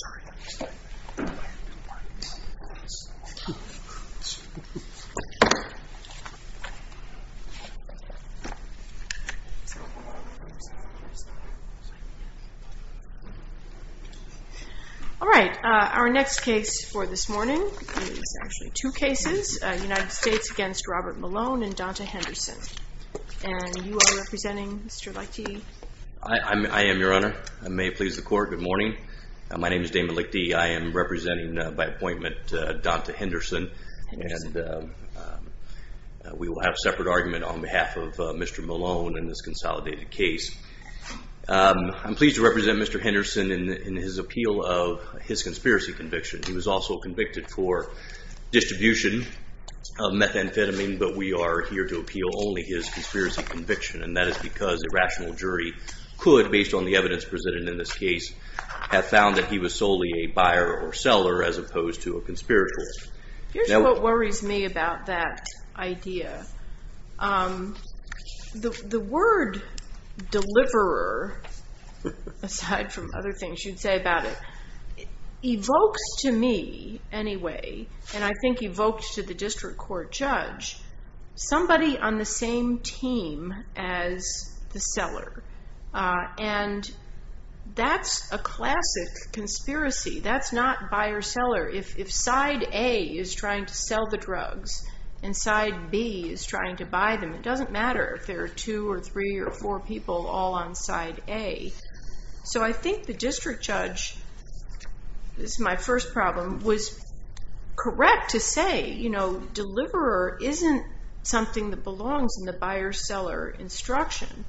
All right, our next case for this morning is actually two cases, United States v. Robert Malone and Donta Henderson. And you are representing, Mr. Lahti? I am, Your Honor. I may please the court. Good morning. My name is Damon Lahti. I am representing by appointment, Donta Henderson, and we will have a separate argument on behalf of Mr. Malone in this consolidated case. I am pleased to represent Mr. Henderson in his appeal of his conspiracy conviction. He was also convicted for distribution of methamphetamine, but we are here to appeal only his conspiracy conviction. And that is because a rational jury could, based on the evidence presented in this case, have found that he was solely a buyer or seller as opposed to a conspirator. Here's what worries me about that idea. The word deliverer, aside from other things you'd say about it, evokes to me anyway, and I think evoked to the district court judge, somebody on the same team as the seller. And that's a classic conspiracy. That's not buyer-seller. If side A is trying to sell the drugs and side B is trying to buy them, it doesn't matter if there are two or three or four people all on side A. So I think the district judge, this is my first problem, was correct to say, you know, deliverer isn't something that belongs in the buyer-seller instruction.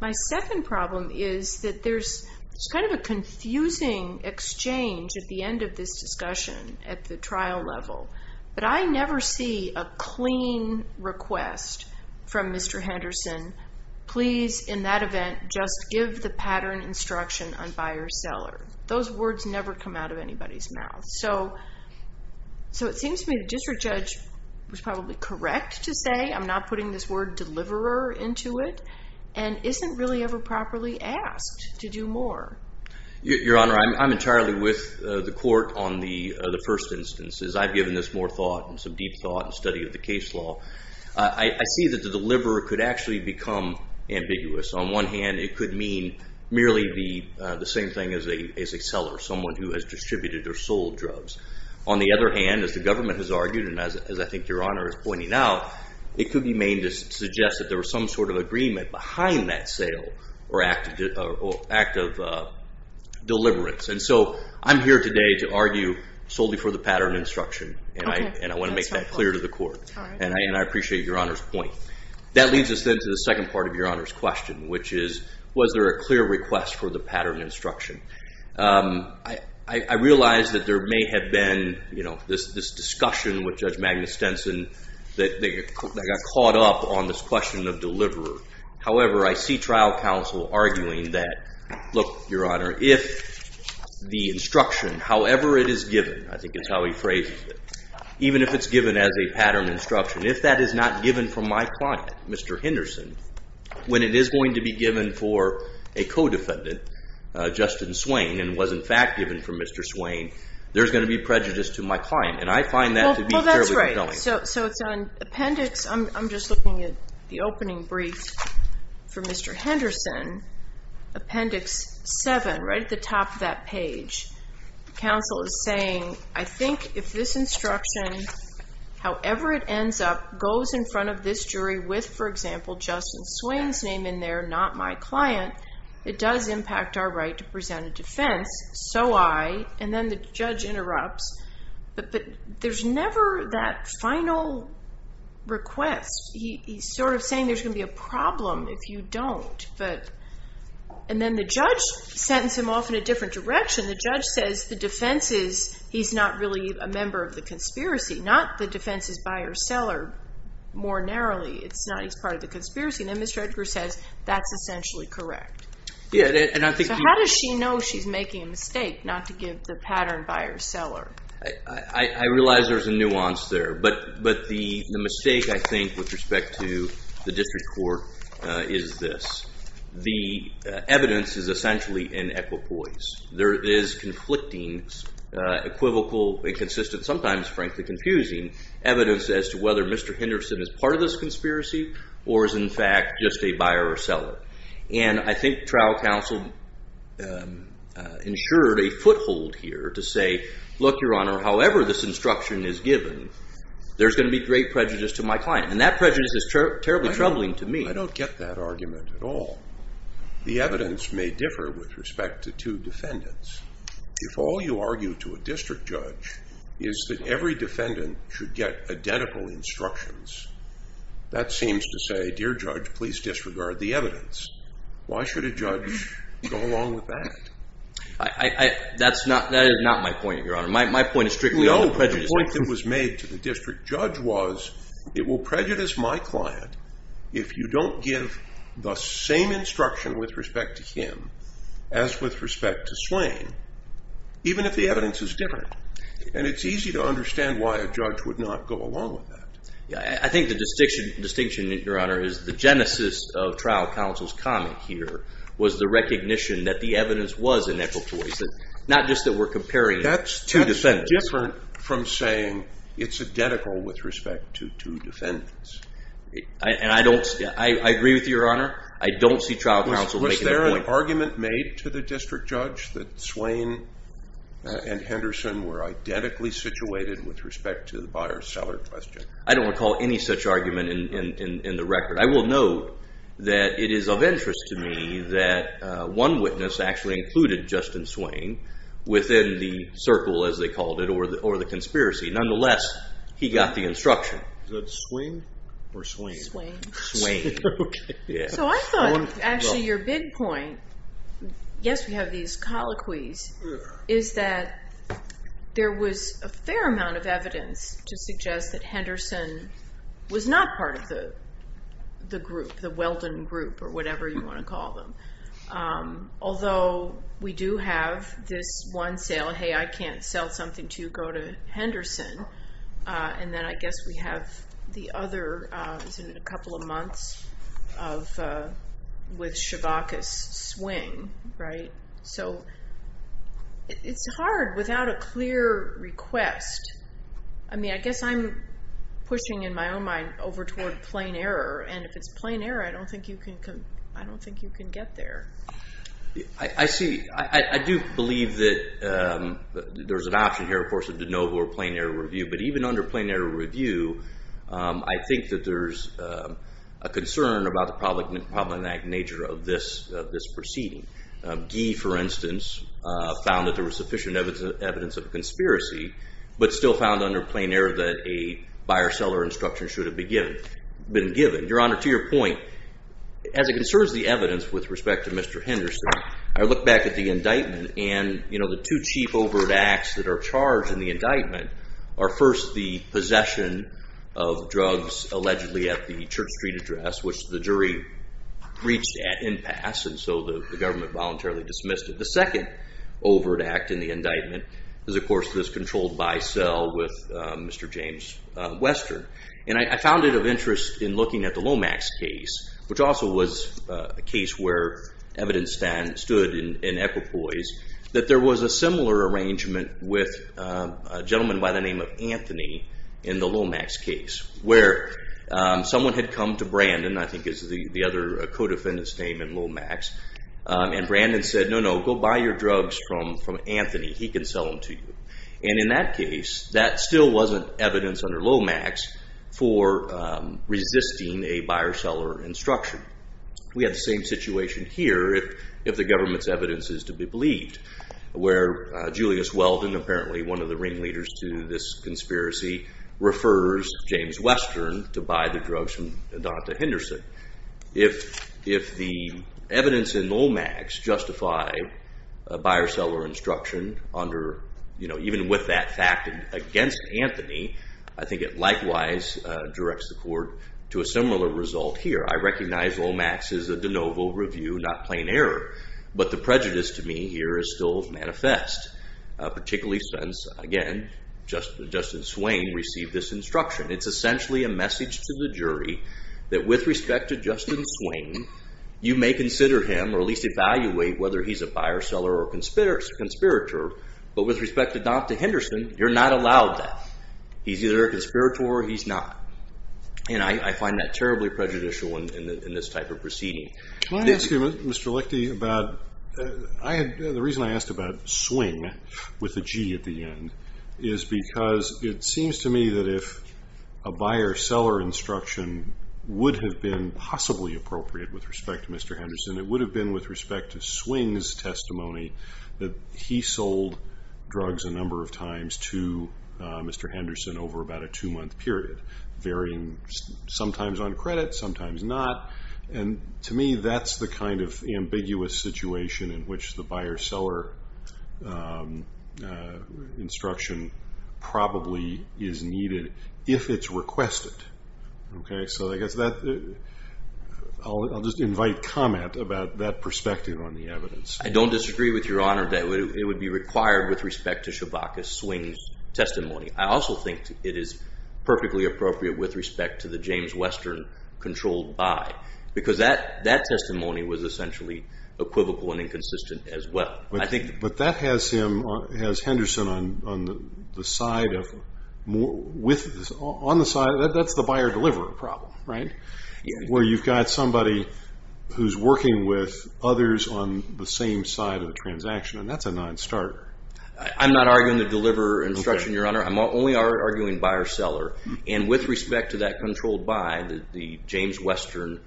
My second problem is that there's kind of a confusing exchange at the end of this discussion at the trial level, but I never see a clean request from Mr. Henderson, please, in that event, just give the pattern instruction on buyer-seller. Those words never come out of anybody's mouth. So it seems to me the district judge was probably correct to say, I'm not putting this word deliverer into it, and isn't really ever properly asked to do more. Your Honor, I'm entirely with the court on the first instances. I've given this more thought and some deep thought and study of the case law. I see that the deliverer could actually become ambiguous. On one hand, it could mean merely the same thing as a seller, someone who has distributed or sold drugs. On the other hand, as the government has argued, and as I think Your Honor is pointing out, it could be made to suggest that there was some sort of agreement behind that sale or act of deliverance. And so I'm here today to argue solely for the pattern instruction, and I want to make that clear to the court. And I appreciate Your Honor's point. That leads us then to the second part of Your Honor's question, which is, was there a clear request for the pattern instruction? I realize that there may have been this discussion with Judge Magnus Stenson that they got caught up on this question of deliverer. However, I see trial counsel arguing that, look, Your Honor, if the instruction, however it is given, I think is how he phrases it, even if it's given as a pattern instruction, if that is not given from my client, Mr. Henderson, when it is going to be given for a co-defendant, Justin Swain, and was in fact given from Mr. Swain, there's going to be prejudice to my client. And I find that to be fairly compelling. So it's an appendix. I'm just looking at the opening brief for Mr. Henderson. Appendix 7, right at the top of that page. Counsel is saying, I think if this instruction, however it ends up, goes in front of this jury with, for example, Justin Swain's name in there, not my client, it does impact our right to present a defense. And then the judge interrupts. But there's never that final request. He's sort of saying there's going to be a problem if you don't. And then the judge sentenced him off in a different direction. The judge says the defense is he's not really a member of the conspiracy. Not the defense is buyer-seller more narrowly. It's not he's part of the conspiracy. And then Mr. Edgar says that's essentially correct. So how does she know she's making a mistake not to give the pattern buyer-seller? I realize there's a nuance there. But the mistake I think with respect to the district court is this. The evidence is essentially in equipoise. There is conflicting, equivocal, inconsistent, sometimes frankly confusing evidence as to whether Mr. Henderson is part of this conspiracy or is in fact just a buyer-seller. And I think trial counsel ensured a foothold here to say, look, Your Honor, however this instruction is given, there's going to be great prejudice to my client. And that prejudice is terribly troubling to me. I don't get that argument at all. The evidence may differ with respect to two defendants. If all you argue to a district judge is that every defendant should get identical instructions, that seems to say, dear judge, please disregard the evidence. Why should a judge go along with that? That is not my point, Your Honor. My point is strictly on prejudice. No, but the point that was made to the district judge was it will prejudice my client if you don't give the same instruction with respect to him as with respect to Slane, even if the evidence is different. And it's easy to understand why a judge would not go along with that. I think the distinction, Your Honor, is the genesis of trial counsel's comment here was the recognition that the evidence was inequitable. Not just that we're comparing two defendants. That's different from saying it's identical with respect to two defendants. I agree with Your Honor. I don't see trial counsel making that point. Was there an argument made to the district judge that Slane and Henderson were identically situated with respect to the buyer-seller question? I don't recall any such argument in the record. I will note that it is of interest to me that one witness actually included Justin Slane within the circle, as they called it, or the conspiracy. Nonetheless, he got the instruction. Is that Swain or Swain? Swain. So I thought actually your big point, yes, we have these colloquies, is that there was a fair amount of evidence to suggest that Henderson was not part of the group, the Weldon group, or whatever you want to call them. Although we do have this one sale, hey, I can't sell something to you, go to Henderson. And then I guess we have the other, is it in a couple of months, with Chevakis, Swain, right? So it's hard without a clear request. I mean, I guess I'm pushing in my own mind over toward plain error. And if it's plain error, I don't think you can get there. I see. I do believe that there's an option here, of course, of de novo or plain error review. But even under plain error review, I think that there's a concern about the problematic nature of this proceeding. Gee, for instance, found that there was sufficient evidence of conspiracy, but still found under plain error that a buyer-seller instruction should have been given. Your Honor, to your point, as it concerns the evidence with respect to Mr. Henderson, I look back at the indictment. And the two cheap overt acts that are charged in the indictment are, first, the possession of drugs allegedly at the Church Street address, which the jury reached at impasse. And so the government voluntarily dismissed it. The second overt act in the indictment is, of course, this controlled buy-sell with Mr. James Western. And I found it of interest in looking at the Lomax case, which also was a case where evidence stood in equipoise, that there was a similar arrangement with a gentleman by the name of Anthony in the Lomax case. Where someone had come to Brandon, I think is the other co-defendant's name in Lomax, and Brandon said, no, no, go buy your drugs from Anthony. He can sell them to you. And in that case, that still wasn't evidence under Lomax for resisting a buyer-seller instruction. We have the same situation here, if the government's evidence is to be believed, where Julius Weldon, apparently one of the ringleaders to this conspiracy, refers James Western to buy the drugs from Donata Henderson. If the evidence in Lomax justify a buyer-seller instruction, even with that fact against Anthony, I think it likewise directs the court to a similar result here. I recognize Lomax is a de novo review, not plain error. But the prejudice to me here is still manifest, particularly since, again, Justice Swain received this instruction. It's essentially a message to the jury that with respect to Justice Swain, you may consider him, or at least evaluate whether he's a buyer-seller or a conspirator. But with respect to Donata Henderson, you're not allowed that. He's either a conspirator or he's not. And I find that terribly prejudicial in this type of proceeding. Can I ask you, Mr. Lichty, the reason I asked about Swing with a G at the end is because it seems to me that if a buyer-seller instruction would have been possibly appropriate with respect to Mr. Henderson, it would have been with respect to Swing's testimony that he sold drugs a number of times to Mr. Henderson over about a two-month period, varying sometimes on credit, sometimes not. And to me, that's the kind of ambiguous situation in which the buyer-seller instruction probably is needed if it's requested. So I guess I'll just invite comment about that perspective on the evidence. I don't disagree with your honor that it would be required with respect to Chewbacca Swing's testimony. I also think it is perfectly appropriate with respect to the James Western controlled buy. Because that testimony was essentially equivocal and inconsistent as well. But that has Henderson on the side of – that's the buyer-deliverer problem, right? Where you've got somebody who's working with others on the same side of the transaction. And that's a non-starter. I'm not arguing the deliverer instruction, your honor. I'm only arguing buyer-seller. And with respect to that controlled buy, the James Western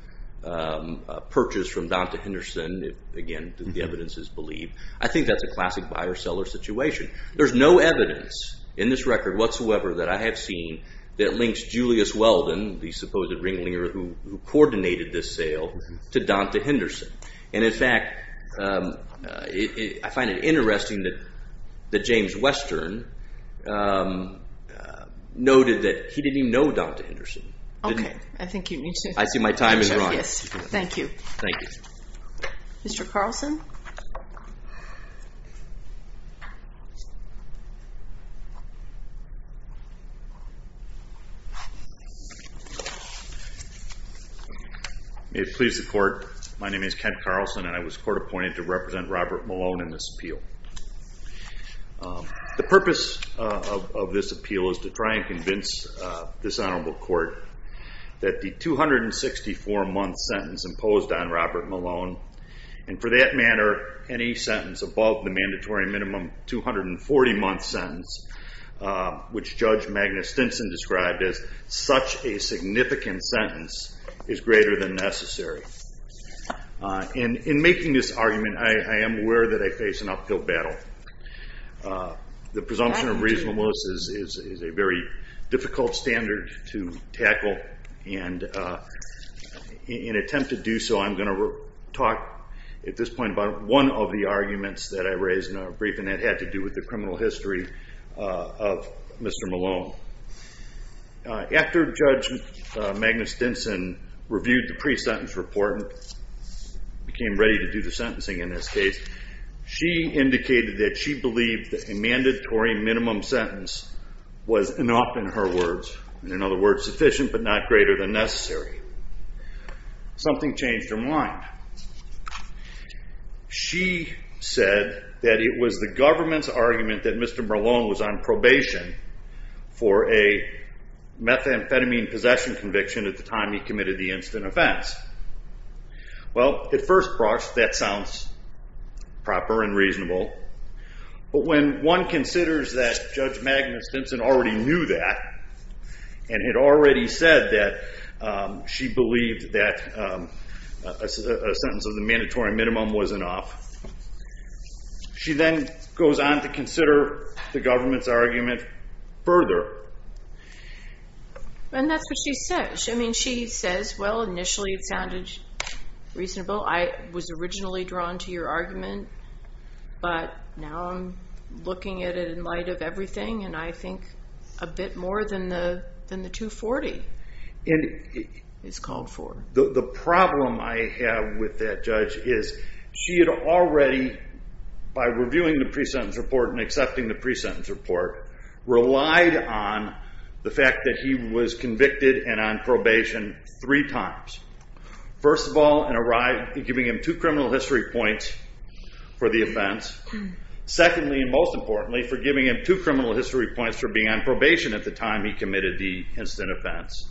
purchase from Donta Henderson, again, the evidence is believed. I think that's a classic buyer-seller situation. There's no evidence in this record whatsoever that I have seen that links Julius Weldon, the supposed ringleader who coordinated this sale, to Donta Henderson. And in fact, I find it interesting that James Western noted that he didn't even know Donta Henderson. Okay. I think you need to – I see my time is running. Yes. Thank you. Thank you. Mr. Carlson? May it please the court, my name is Kent Carlson and I was court appointed to represent Robert Malone in this appeal. The purpose of this appeal is to try and convince this honorable court that the 264-month sentence imposed on Robert Malone, and for that matter, any sentence above the mandatory minimum 240-month sentence, which Judge Magnus Stinson described as such a significant sentence, is greater than necessary. In making this argument, I am aware that I face an uphill battle. The presumption of reasonableness is a very difficult standard to tackle, and in an attempt to do so, I'm going to talk at this point about one of the arguments that I raised in a briefing that had to do with the criminal history of Mr. Malone. After Judge Magnus Stinson reviewed the pre-sentence report and became ready to do the sentencing in this case, she indicated that she believed that a mandatory minimum sentence was enough in her words, in other words, sufficient but not greater than necessary. Something changed her mind. She said that it was the government's argument that Mr. Malone was on probation for a methamphetamine possession conviction at the time he committed the instant offense. Well, at first, that sounds proper and reasonable, but when one considers that Judge Magnus Stinson already knew that and had already said that she believed that a sentence of the mandatory minimum was enough, she then goes on to consider the government's argument further. And that's what she says. I mean, she says, well, initially it sounded reasonable. I was originally drawn to your argument, but now I'm looking at it in light of everything, and I think a bit more than the 240 is called for. The problem I have with that judge is she had already, by reviewing the pre-sentence report and accepting the pre-sentence report, relied on the fact that he was convicted and on probation three times. First of all, in giving him two criminal history points for the offense. Secondly, and most importantly, for giving him two criminal history points for being on probation at the time he committed the instant offense.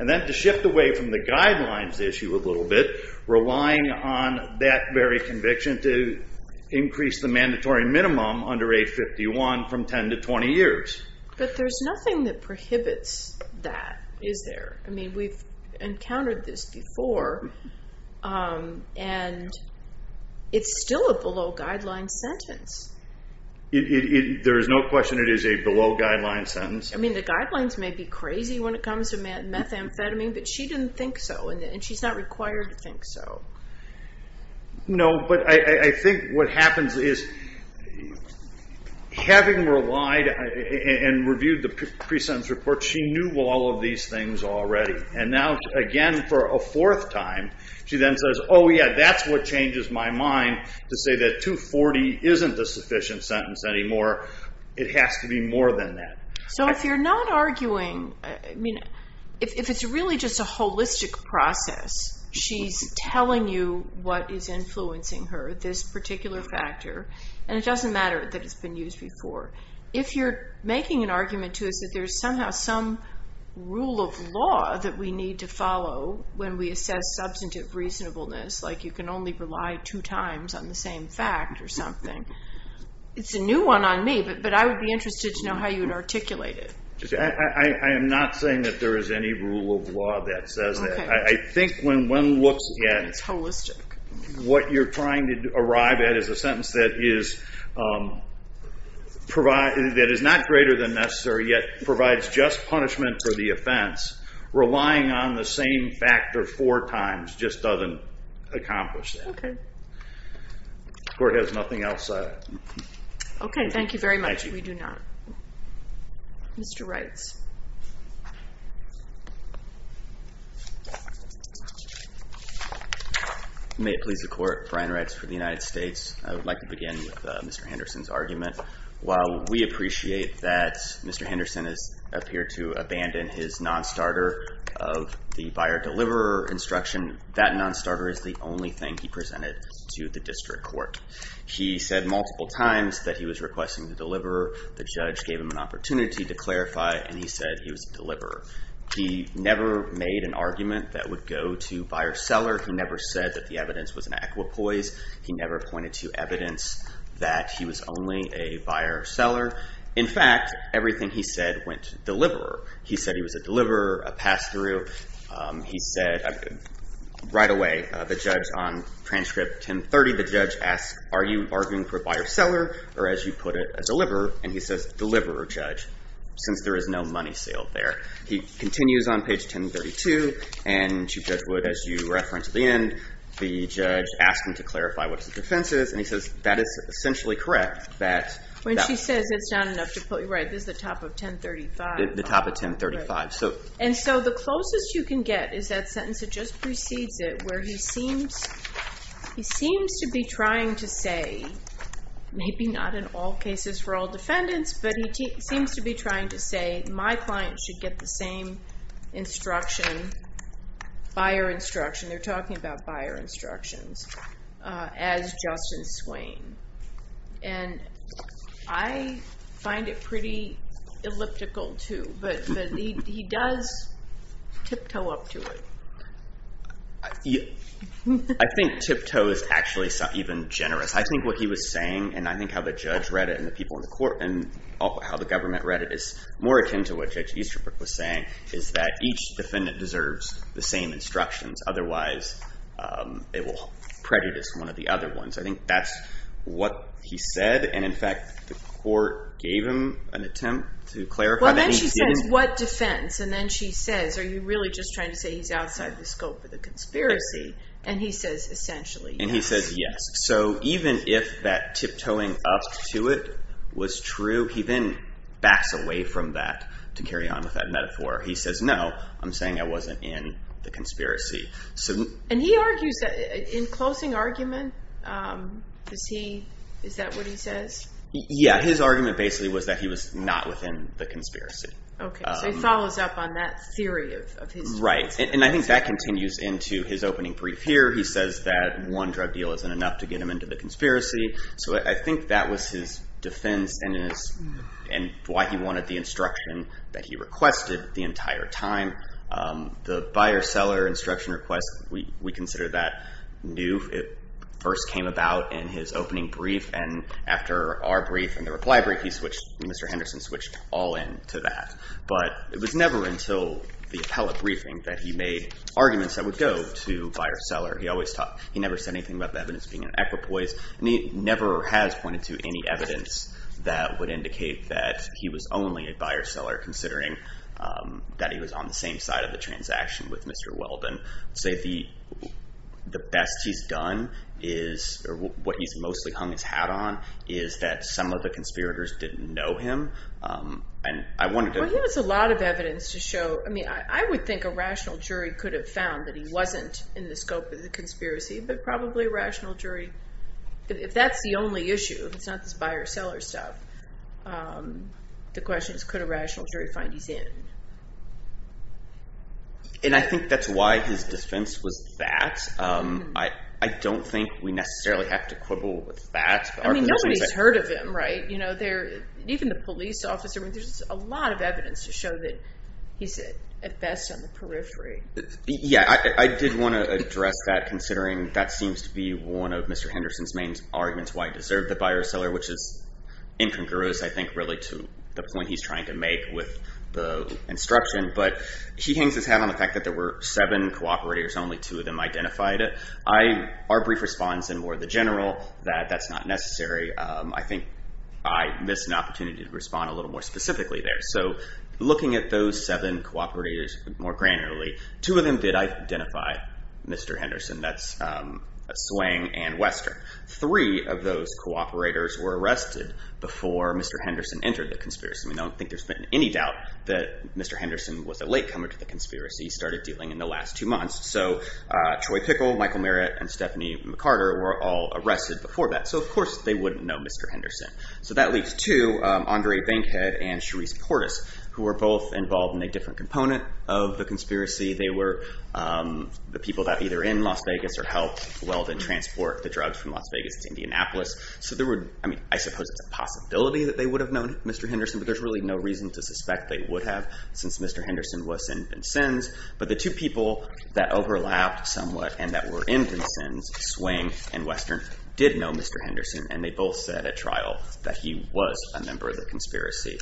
And then to shift away from the guidelines issue a little bit, relying on that very conviction to increase the mandatory minimum under 851 from 10 to 20 years. But there's nothing that prohibits that, is there? I mean, we've encountered this before, and it's still a below-guideline sentence. There is no question it is a below-guideline sentence. I mean, the guidelines may be crazy when it comes to methamphetamine, but she didn't think so, and she's not required to think so. No, but I think what happens is, having relied and reviewed the pre-sentence report, she knew all of these things already. And now, again, for a fourth time, she then says, oh yeah, that's what changes my mind to say that 240 isn't a sufficient sentence anymore. It has to be more than that. So if you're not arguing, I mean, if it's really just a holistic process, she's telling you what is influencing her, this particular factor, and it doesn't matter that it's been used before. If you're making an argument to us that there's somehow some rule of law that we need to follow when we assess substantive reasonableness, like you can only rely two times on the same fact or something, it's a new one on me, but I would be interested to know how you would articulate it. I am not saying that there is any rule of law that says that. I think when one looks at what you're trying to arrive at as a sentence that is not greater than necessary, yet provides just punishment for the offense, relying on the same fact or four times just doesn't accomplish that. The court has nothing else. OK. Thank you very much. We do not. Mr. Reitz. May it please the court. Brian Reitz for the United States. I would like to begin with Mr. Henderson's argument. While we appreciate that Mr. Henderson has appeared to abandon his non-starter of the buyer-deliverer instruction, that non-starter is the only thing he presented to the district court. He said multiple times that he was requesting the deliverer. The judge gave him an opportunity to clarify, and he said he was a deliverer. He never made an argument that would go to buyer-seller. He never said that the evidence was an equipoise. He never pointed to evidence that he was only a buyer-seller. In fact, everything he said went to deliverer. He said he was a deliverer, a pass-through. He said right away, the judge on transcript 1030, the judge asked, are you arguing for a buyer-seller, or as you put it, a deliverer? And he says, deliverer, judge, since there is no money sale there. He continues on page 1032. And Chief Judge Wood, as you referenced at the end, the judge asked him to clarify what his defense is, and he says that is essentially correct. When she says it's not enough to put, right, this is the top of 1035. The top of 1035. And so the closest you can get is that sentence that just precedes it, where he seems to be trying to say, maybe not in all cases for all defendants, but he seems to be trying to say my client should get the same instruction, buyer instruction, they're talking about buyer instructions, as Justin Swain. And I find it pretty elliptical, too. But he does tiptoe up to it. I think tiptoe is actually even generous. I think what he was saying, and I think how the judge read it, and the people in the court, and how the government read it, is more akin to what Judge Easterbrook was saying, is that each defendant deserves the same instructions. Otherwise, it will prejudice one of the other ones. I think that's what he said. And in fact, the court gave him an attempt to clarify that he didn't- Well, then she says, what defense? And then she says, are you really just trying to say he's outside the scope of the conspiracy? And he says, essentially, yes. And he says, yes. So even if that tiptoeing up to it was true, he then backs away from that to carry on with that metaphor. He says, no, I'm saying I wasn't in the conspiracy. And he argues that, in closing argument, is that what he says? Yeah. His argument, basically, was that he was not within the conspiracy. OK. So he follows up on that theory of his. Right. And I think that continues into his opening brief here. He says that one drug deal isn't enough to get him into the conspiracy. So I think that was his defense and why he wanted the instruction that he requested the entire time. The buyer-seller instruction request, we consider that new. It first came about in his opening brief. And after our brief and the reply brief, Mr. Henderson switched all in to that. But it was never until the appellate briefing that he made arguments that would go to buyer-seller. He never said anything about the evidence being an equipoise. And he never has pointed to any evidence that would indicate that he was only a buyer-seller, considering that he was on the same side of the transaction with Mr. Weldon. I'd say the best he's done is – or what he's mostly hung his hat on – is that some of the conspirators didn't know him. Well, he has a lot of evidence to show – I mean, I would think a rational jury could have found that he wasn't in the scope of the conspiracy, but probably a rational jury. If that's the only issue, if it's not this buyer-seller stuff, the question is could a rational jury find he's in? And I think that's why his defense was that. I don't think we necessarily have to quibble with that. I mean, nobody's heard of him, right? Even the police officer – I mean, there's a lot of evidence to show that he's at best on the periphery. Yeah, I did want to address that, considering that seems to be one of Mr. Henderson's main arguments why he deserved the buyer-seller, which is incongruous, I think, really, to the point he's trying to make with the instruction. But he hangs his hat on the fact that there were seven cooperators, and only two of them identified it. Our brief response, and more the general, that that's not necessary. I think I missed an opportunity to respond a little more specifically there. So looking at those seven cooperators more granularly, two of them did identify Mr. Henderson. That's Swang and Western. Three of those cooperators were arrested before Mr. Henderson entered the conspiracy. I mean, I don't think there's been any doubt that Mr. Henderson was a latecomer to the conspiracy. He started dealing in the last two months. So Troy Pickle, Michael Merritt, and Stephanie McCarter were all arrested before that. So of course they wouldn't know Mr. Henderson. So that leaves two, Andre Bankhead and Cherise Portis, who were both involved in a different component of the conspiracy. They were the people that either in Las Vegas or helped Weldon transport the drugs from Las Vegas to Indianapolis. So there were, I mean, I suppose it's a possibility that they would have known Mr. Henderson, but there's really no reason to suspect they would have since Mr. Henderson was in Vincennes. But the two people that overlapped somewhat and that were in Vincennes, Swang and Western, did know Mr. Henderson. And they both said at trial that he was a member of the conspiracy.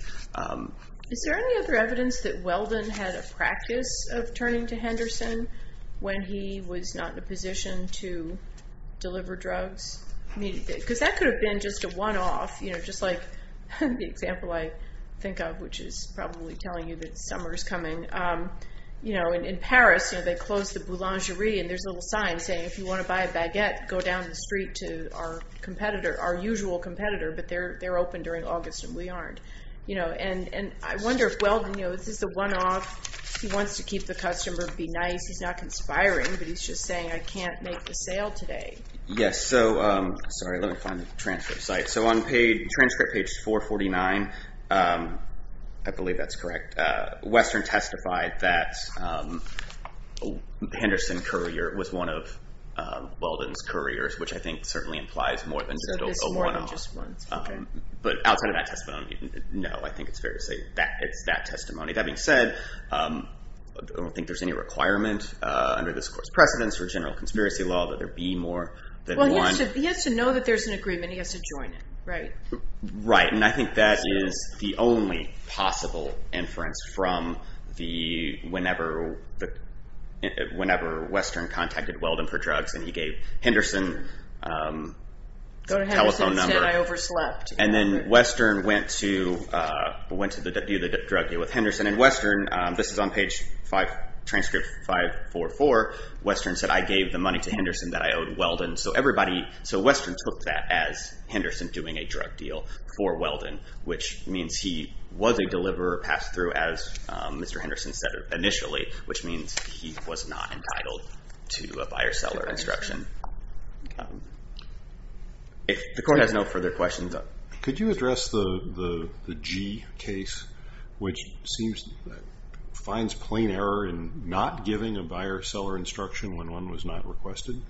Is there any other evidence that Weldon had a practice of turning to Henderson when he was not in a position to deliver drugs? Because that could have been just a one-off, just like the example I think of, which is probably telling you that summer is coming. In Paris, they closed the boulangerie and there's a little sign saying, if you want to buy a baguette, go down the street to our competitor, our usual competitor. But they're open during August and we aren't. And I wonder if Weldon, this is a one-off, he wants to keep the customer, be nice. He's not conspiring, but he's just saying, I can't make the sale today. Yes, so sorry, let me find the transcript site. So on page, transcript page 449, I believe that's correct. Western testified that Henderson courier was one of Weldon's couriers, which I think certainly implies more than just a one-off. But outside of that testimony, no, I think it's fair to say that it's that testimony. That being said, I don't think there's any requirement under this court's precedence for general conspiracy law that there be more than one. Well, he has to know that there's an agreement. He has to join it, right? Right, and I think that is the only possible inference from whenever Western contacted Weldon for drugs and he gave Henderson a telephone number. Go to Henderson instead, I overslept. And then Western went to do the drug deal with Henderson. And Western, this is on page transcript 544, Western said, I gave the money to Henderson that I owed Weldon. So Western took that as Henderson doing a drug deal for Weldon, which means he was a deliverer, passed through, as Mr. Henderson said initially, which means he was not entitled to a buyer-seller instruction. If the court has no further questions. Could you address the G case, which seems to find plain error in not giving a buyer-seller instruction when one was not requested?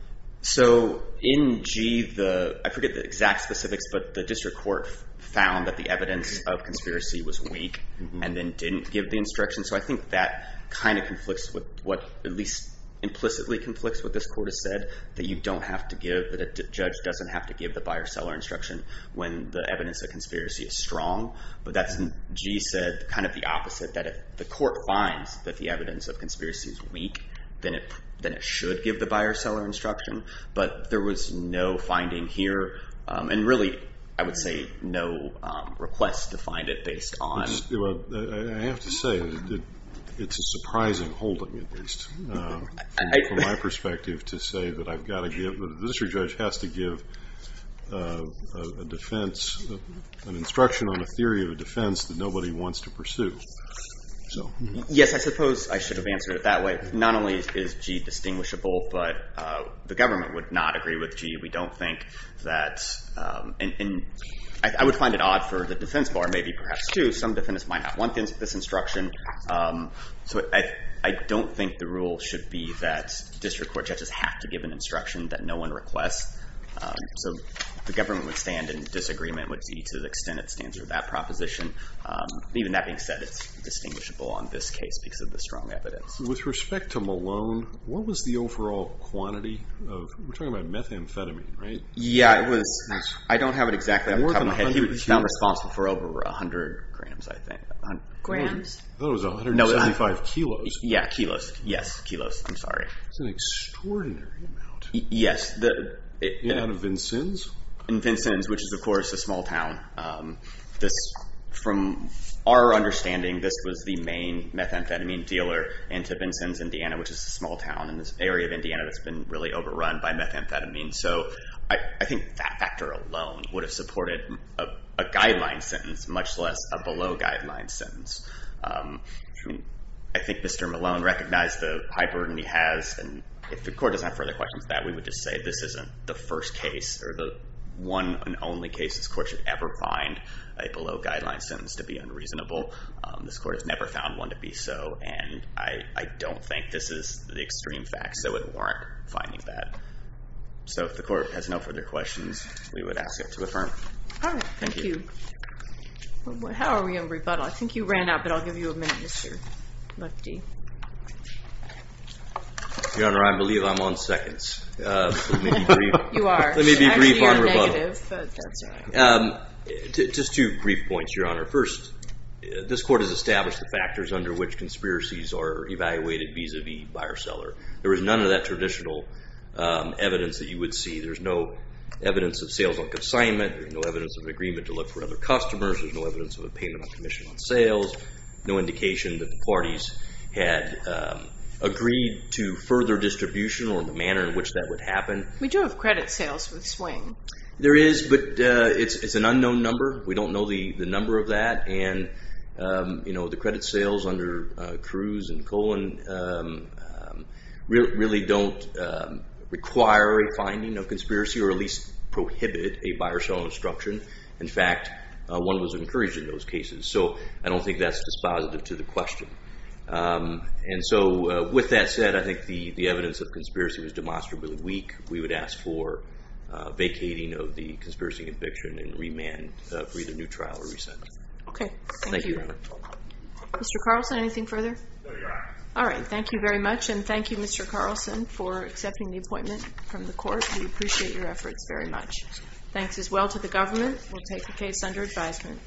So in G, I forget the exact specifics, but the district court found that the evidence of conspiracy was weak and then didn't give the instruction. So I think that kind of conflicts with what at least implicitly conflicts with what this court has said, that you don't have to give, that a judge doesn't have to give the buyer-seller instruction when the evidence of conspiracy is strong. But that's, G said, kind of the opposite, that if the court finds that the evidence of conspiracy is weak, then it should give the buyer-seller instruction. But there was no finding here and really, I would say, no request to find it based on. I have to say, it's a surprising holding at least from my perspective to say that I've got to give, the district judge has to give a defense, an instruction on a theory of a defense that nobody wants to pursue. Yes, I suppose I should have answered it that way. Not only is G distinguishable, but the government would not agree with G. We don't think that, and I would find it odd for the defense bar, maybe perhaps too, some defense might not want this instruction. So I don't think the rule should be that district court judges have to give an instruction that no one requests. So the government would stand in disagreement with G to the extent it stands with that proposition. Even that being said, it's distinguishable on this case because of the strong evidence. With respect to Malone, what was the overall quantity of, we're talking about methamphetamine, right? Yeah, it was, I don't have it exactly off the top of my head. He was found responsible for over 100 grams, I think. Grams? I thought it was 175 kilos. Yeah, kilos, yes, kilos, I'm sorry. That's an extraordinary amount. Yes. In and out of Vincennes? In Vincennes, which is of course a small town. From our understanding, this was the main methamphetamine dealer in to Vincennes, Indiana, which is a small town in this area of Indiana that's been really overrun by methamphetamine. So I think that factor alone would have supported a guideline sentence, much less a below-guideline sentence. I think Mr. Malone recognized the high burden he has, and if the court doesn't have further questions on that, we would just say this isn't the first case or the one and only case this court should ever find a below-guideline sentence to be unreasonable. This court has never found one to be so, and I don't think this is the extreme facts that would warrant finding that. So if the court has no further questions, we would ask it to affirm. All right, thank you. How are we on rebuttal? I think you ran out, but I'll give you a minute, Mr. Lefty. Your Honor, I believe I'm on seconds. You are. Let me be brief on rebuttal. Actually, you're negative, but that's all right. Just two brief points, Your Honor. First, this court has established the factors under which conspiracies are evaluated vis-a-vis buyer-seller. There is none of that traditional evidence that you would see. There's no evidence of sales on consignment. There's no evidence of an agreement to look for other customers. There's no evidence of a payment on commission on sales. No indication that the parties had agreed to further distribution or the manner in which that would happen. We do have credit sales with Swing. There is, but it's an unknown number. We don't know the number of that, and, you know, the credit sales under Cruz and Cohen really don't require a finding of conspiracy or at least prohibit a buyer-seller obstruction. In fact, one was encouraged in those cases, so I don't think that's dispositive to the question. And so with that said, I think the evidence of conspiracy was demonstrably weak. We would ask for vacating of the conspiracy conviction and remand for either new trial or resentment. Okay. Thank you. Thank you, Your Honor. Mr. Carlson, anything further? No, Your Honor. All right. Thank you very much, and thank you, Mr. Carlson, for accepting the appointment from the court. We appreciate your efforts very much. Thanks as well to the government. We'll take the case under advisement.